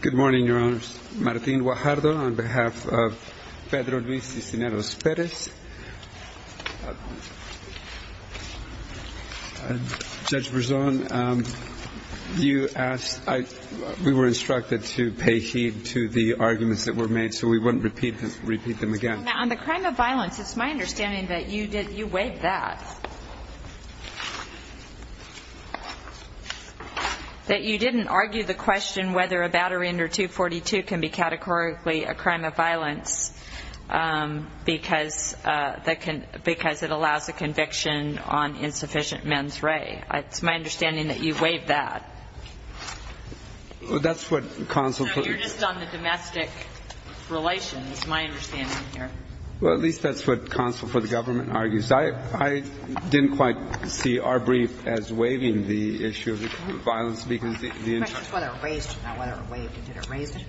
Good morning, Your Honors. Martin Guajardo on behalf of Pedro Luis Cisneros-Perez. Judge Berzon, you asked... We were instructed to pay heed to the arguments that were made, so we wouldn't repeat them again. On the crime of violence, it's my understanding that you weighed that. That you didn't argue the question whether a battery under 242 can be categorically a crime of violence because it allows a conviction on insufficient mens re. It's my understanding that you weighed that. That's what counsel... So you're just on the domestic relations, is my understanding here. Well, at least that's what counsel for the government argues. I didn't quite see our brief as waiving the issue of the crime of violence because the interest... The question is whether it raised it, not whether it waived it. Did it raise it?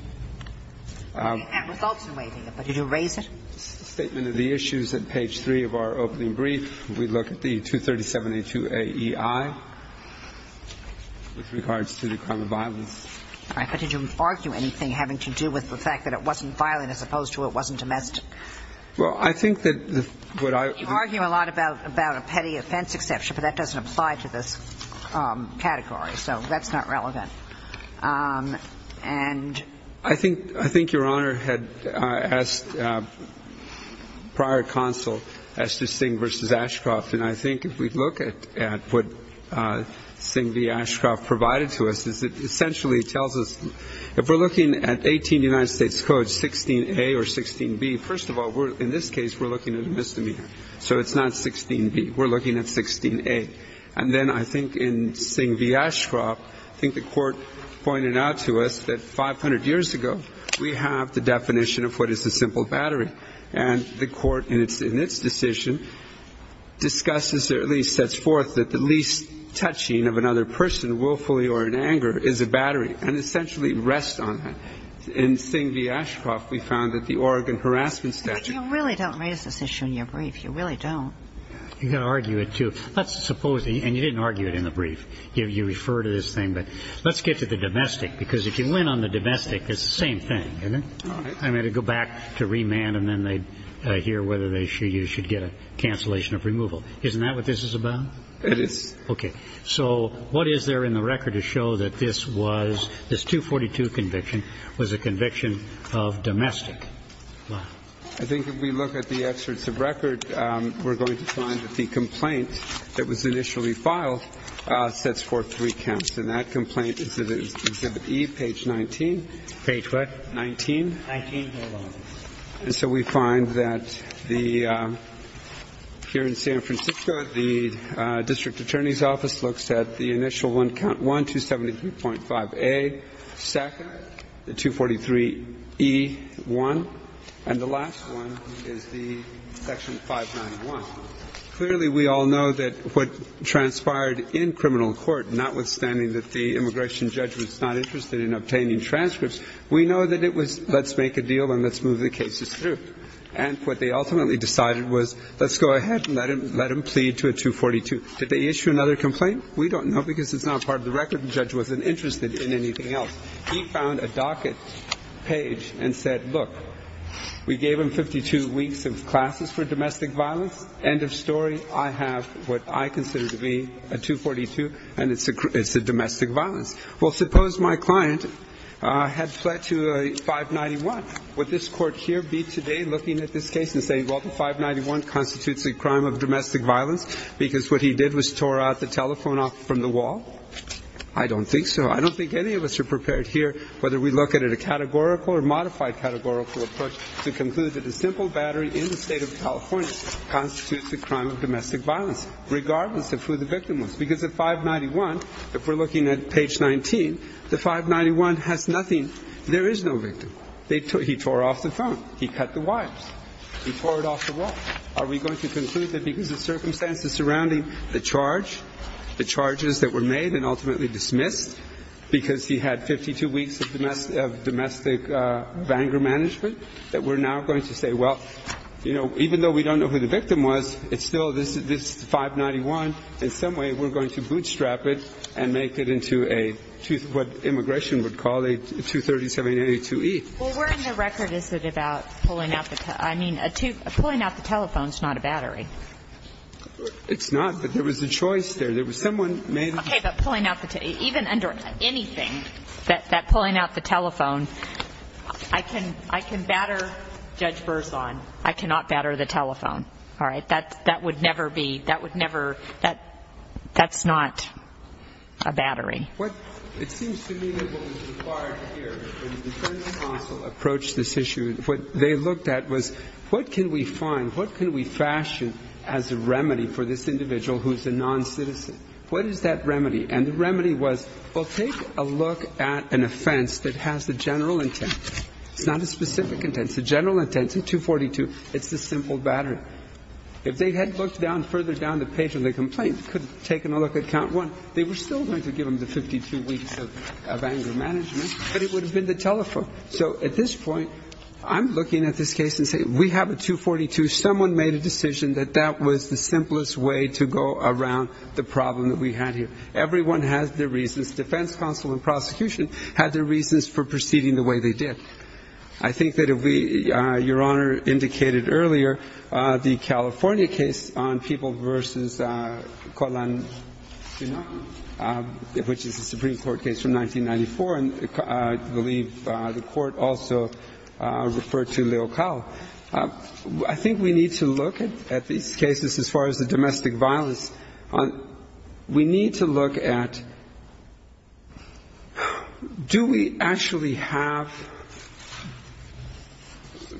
It results in waiving it, but did it raise it? It's the statement of the issues at page 3 of our opening brief. We look at the 237A2AEI with regards to the crime of violence. All right. But did you argue anything having to do with the fact that it wasn't violent as opposed to it wasn't domestic? Well, I think that what I... You argue a lot about a petty offense exception, but that doesn't apply to this category, so that's not relevant. And... I think Your Honor had asked prior counsel as to Singh v. Ashcroft. And I think if we look at what Singh v. Ashcroft provided to us is it essentially tells us if we're looking at 18 United States Codes, 16A or 16B, first of all, in this case, we're looking at a misdemeanor. So it's not 16B. We're looking at 16A. And then I think in Singh v. Ashcroft, I think the Court pointed out to us that 500 years ago, we have the definition of what is a simple battery. And the Court in its decision discusses or at least sets forth that the least touching of another person willfully or in anger is a battery and essentially rests on that. In Singh v. Ashcroft, we found that the Oregon harassment statute... But you really don't raise this issue in your brief. You really don't. You've got to argue it, too. Let's suppose... And you didn't argue it in the brief. You refer to this thing, but let's get to the domestic, because if you went on the domestic, it's the same thing, isn't it? All right. I mean, to go back to remand and then they hear whether they should get a cancellation of removal. Isn't that what this is about? It is. Okay. So what is there in the record to show that this was, this 242 conviction, was a conviction of domestic? I think if we look at the excerpts of record, we're going to find that the complaint that was initially filed sets forth three counts. And that complaint is in Exhibit E, page 19. Page what? 19. 19. Hold on. And so we find that the, here in San Francisco, the district attorney's office looks at the initial one, count 1, 273.5A, SACA, the 243E1, and the last one is the Section 591. Clearly, we all know that what transpired in criminal court, notwithstanding that the immigration judge was not interested in obtaining transcripts, we know that it was, let's make a deal and let's move the cases through. And what they ultimately decided was, let's go ahead and let him plead to a 242. Did they issue another complaint? We don't know, because it's not part of the record. The judge wasn't interested in anything else. He found a docket page and said, look, we gave him 52 weeks of classes for domestic violence. End of story. I have what I consider to be a 242, and it's a domestic violence. Well, suppose my client had fled to a 591. Would this court here be today looking at this case and saying, well, the 591 constitutes a crime of domestic violence because what he did was tore out the telephone off from the wall? I don't think so. I don't think any of us are prepared here, whether we look at it a categorical or modified categorical approach, to conclude that a simple battery in the State of California constitutes a crime of domestic violence, regardless of who the victim was. Because the 591, if we're looking at page 19, the 591 has nothing. There is no victim. He tore off the phone. He cut the wires. He tore it off the wall. Are we going to conclude that because of circumstances surrounding the charge, the charges that were made and ultimately dismissed because he had 52 weeks of domestic anger management, that we're now going to say, well, you know, even though we don't know who the victim was, it's still this 591. In some way, we're going to bootstrap it and make it into a, what immigration would call a 23782E. Well, where in the record is it about pulling out the telephone? I mean, pulling out the telephone is not a battery. It's not, but there was a choice there. There was someone made. Okay, but pulling out the telephone, even under anything, that pulling out the telephone, I can batter Judge Berzon. I cannot batter the telephone. All right? That would never be, that would never, that's not a battery. It seems to me that what was required here when the defense counsel approached this issue, what they looked at was what can we find, what can we fashion as a remedy for this individual who's a noncitizen? What is that remedy? And the remedy was, well, take a look at an offense that has a general intent. It's not a specific intent. It's a general intent. It's a 242. It's a simple battery. If they had looked down, further down the page of the complaint, could have taken a look at count one. They were still going to give them the 52 weeks of anger management, but it would have been the telephone. So at this point, I'm looking at this case and saying, we have a 242. Someone made a decision that that was the simplest way to go around the problem that we had here. Everyone has their reasons. Defense counsel and prosecution had their reasons for proceeding the way they did. I think that if we, Your Honor indicated earlier, the California case on people versus Kolan Sinaki, which is a Supreme Court case from 1994, and I believe the Court also referred to Leocal, I think we need to look at these cases as far as the domestic violence. We need to look at, do we actually have,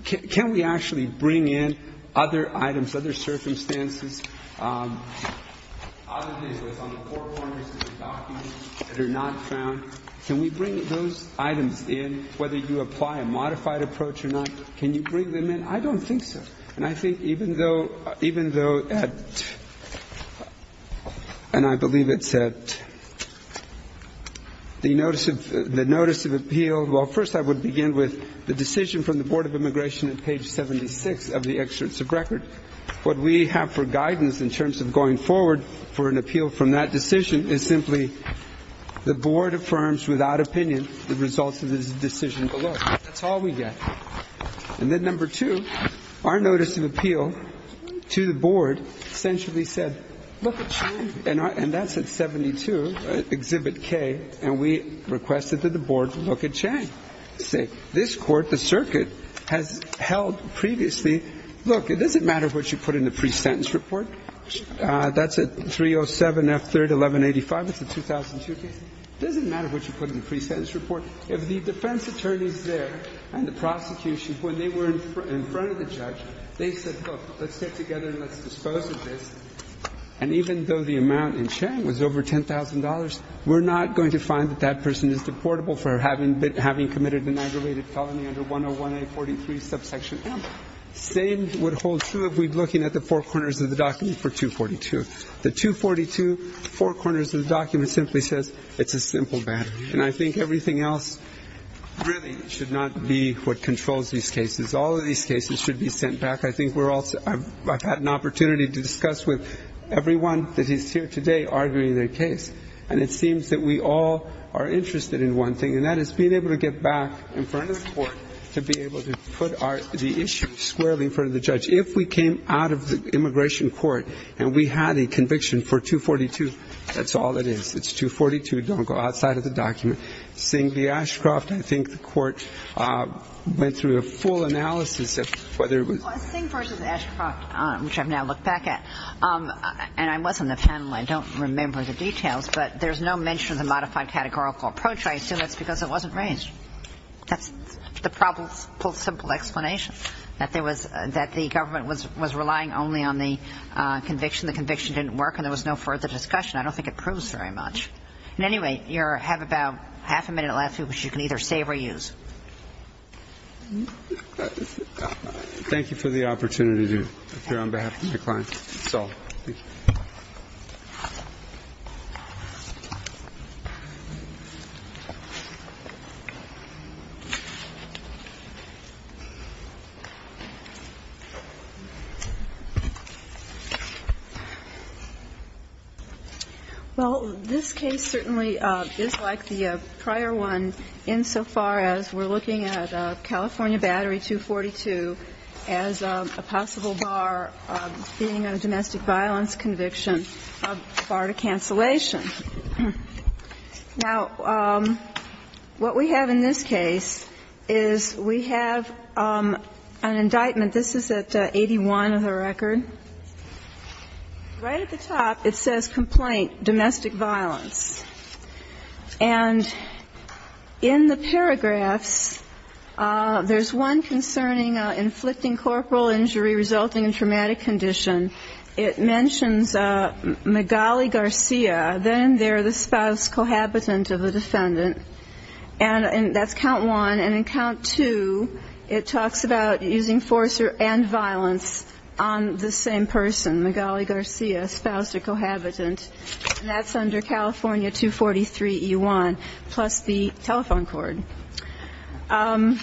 can we actually bring in other items, other circumstances, other things that's on the four corners of the documents that are not found? Can we bring those items in, whether you apply a modified approach or not? Can you bring them in? I don't think so. And I think even though, even though at, and I believe it's at the notice of, the notice of appeal, well, first I would begin with the decision from the Board of Appeals. What we have for guidance in terms of going forward for an appeal from that decision is simply the Board affirms without opinion the results of the decision below. That's all we get. And then number two, our notice of appeal to the Board essentially said, look at Chang, and that's at 72, Exhibit K, and we requested that the Board look at Chang and say, this Court, the circuit, has held previously, look, it doesn't matter what you put in the pre-sentence report. That's at 307 F. 3rd, 1185. It's a 2002 case. It doesn't matter what you put in the pre-sentence report. If the defense attorneys there and the prosecution, when they were in front of the judge, they said, look, let's get together and let's dispose of this, and even though the amount in Chang was over $10,000, we're not going to find that that person is deportable for having committed an aggravated felony under 101A43, subsection M. Same would hold true if we're looking at the four corners of the document for 242. The 242, four corners of the document simply says it's a simple matter, and I think everything else really should not be what controls these cases. All of these cases should be sent back. I think we're all – I've had an opportunity to discuss with everyone that is here today arguing their case. And it seems that we all are interested in one thing, and that is being able to get back in front of the court to be able to put our – the issue squarely in front of the judge. If we came out of the immigration court and we had a conviction for 242, that's all it is. It's 242. Don't go outside of the document. Singh v. Ashcroft, I think the court went through a full analysis of whether it was – Well, Singh v. Ashcroft, which I've now looked back at – and I was on the panel. I don't remember the details, but there's no mention of the modified categorical approach. I assume that's because it wasn't raised. That's the probable simple explanation, that there was – that the government was relying only on the conviction. The conviction didn't work, and there was no further discussion. I don't think it proves very much. And anyway, you have about half a minute left, which you can either save or use. Thank you for the opportunity, if you're on behalf of your client. It's all. Thank you. Well, this case certainly is like the prior one insofar as we're looking at California 242 as a possible bar of being a domestic violence conviction, a bar to cancellation. Now, what we have in this case is we have an indictment. This is at 81 of the record. Right at the top, it says, complaint, domestic violence. And in the paragraphs, there's one concerning inflicting corporal injury resulting in traumatic condition. It mentions Migali Garcia, then they're the spouse cohabitant of a defendant. And that's count one. And in count two, it talks about using force and violence on the same person, Migali Garcia, spouse or cohabitant. And that's under California 243E1, plus the telephone cord. Now,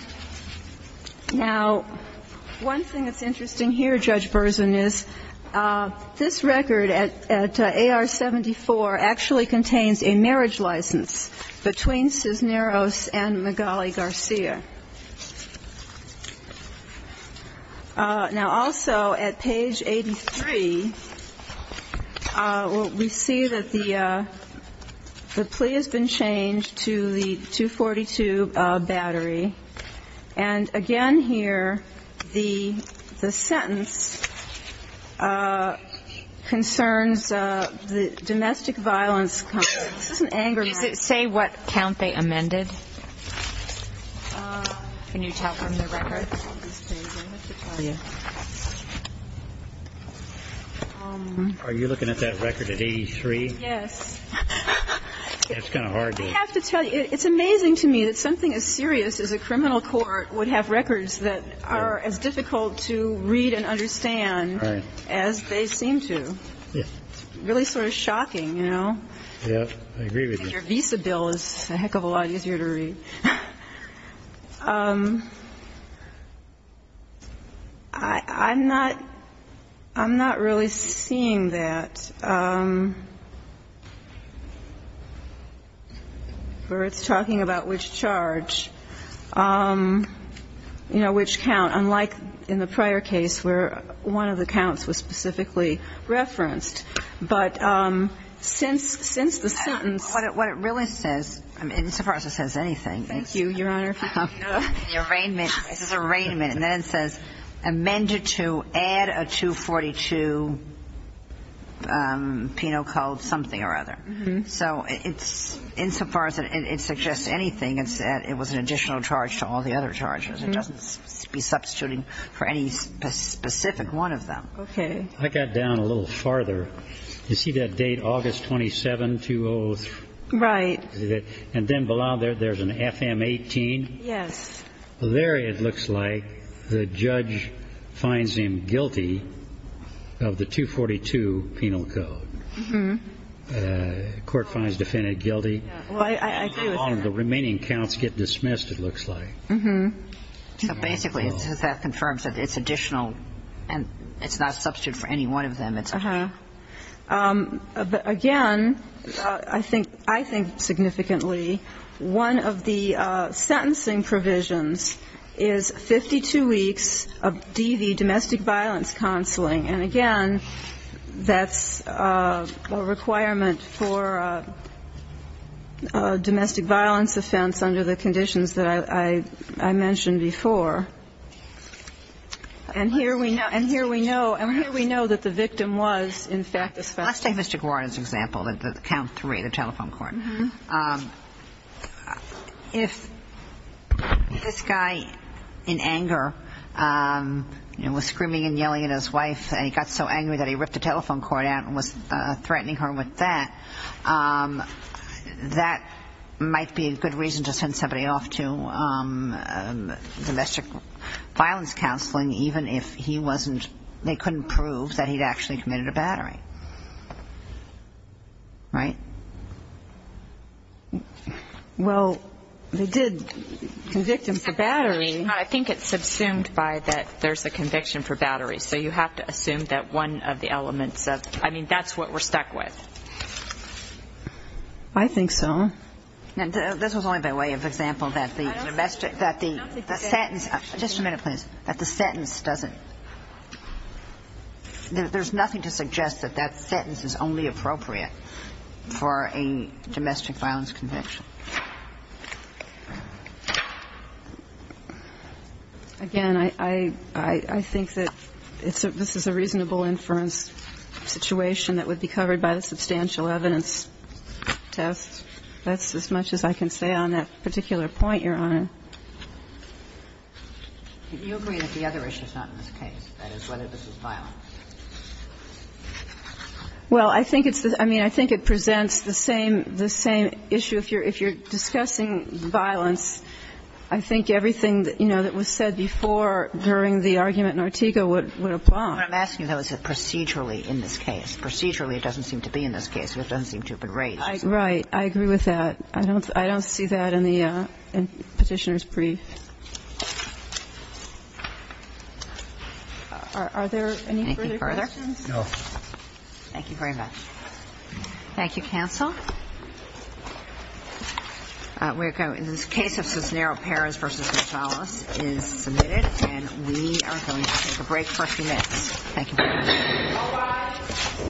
one thing that's interesting here, Judge Berzin, is this record at AR-74 actually contains a marriage license between Cisneros and Migali Garcia. Now, also at page 83, we see that the plea has been changed to the 242 battery. And again here, the sentence concerns the domestic violence. Is this an anger? Say what count they amended. Can you tell from the record? I have to tell you. Are you looking at that record at 83? Yes. That's kind of hard to do. I have to tell you, it's amazing to me that something as serious as a criminal court would have records that are as difficult to read and understand as they seem to. Yeah. It's really sort of shocking, you know. Yeah, I agree with you. Your visa bill is a heck of a lot easier to read. I'm not really seeing that where it's talking about which charge, you know, which count, unlike in the prior case where one of the counts was specifically referenced. But since the sentence. What it really says, insofar as it says anything. Thank you, Your Honor. The arraignment, it says arraignment. And then it says amended to add a 242 PINO code something or other. So insofar as it suggests anything, it was an additional charge to all the other charges. It doesn't be substituting for any specific one of them. Okay. I got down a little farther. You see that date, August 27, 2003? Right. And then below there, there's an FM 18. Yes. There, it looks like, the judge finds him guilty of the 242 PINO code. The court finds the defendant guilty. I agree with that. All of the remaining counts get dismissed, it looks like. So basically, that confirms that it's additional and it's not a substitute for any one of them. Uh-huh. But, again, I think significantly one of the sentencing provisions is 52 weeks of DV, domestic violence counseling. And, again, that's a requirement for a domestic violence offense under the conditions that I mentioned before. And here we know that the victim was, in fact, a suspect. Let's take Mr. Guarda's example, the count three, the telephone court. Uh-huh. If this guy, in anger, you know, was screaming and yelling at his wife, and he got so angry that he ripped the telephone cord out and was threatening her with that, that might be a good reason to send somebody off to domestic violence counseling, even if he wasn't they couldn't prove that he'd actually committed a battery. Right? Well, they did convict him for battery. I think it's subsumed by that there's a conviction for battery. So you have to assume that one of the elements of, I mean, that's what we're stuck with. I think so. And this was only by way of example that the domestic, that the sentence, just a minute, please, that the sentence doesn't, there's nothing to suggest that that sentence is only appropriate for a domestic violence conviction. Again, I think that this is a reasonable inference situation that would be covered by the substantial evidence test that's as much as I can say on that particular point, Your Honor. Do you agree that the other issue is not in this case, that is, whether this is violence? Well, I think it's, I mean, I think it presents the same, the same issue. If you're discussing violence, I think everything, you know, that was said before during the argument in Ortega would apply. What I'm asking, though, is that procedurally in this case. Procedurally, it doesn't seem to be in this case. It doesn't seem to have been raised. Right. I agree with that. I don't see that in the Petitioner's Brief. Are there any further questions? No. Thank you very much. Thank you, counsel. In this case of Cisneros-Perez v. Gonzalez is submitted, and we are going to take a break for a few minutes. Thank you.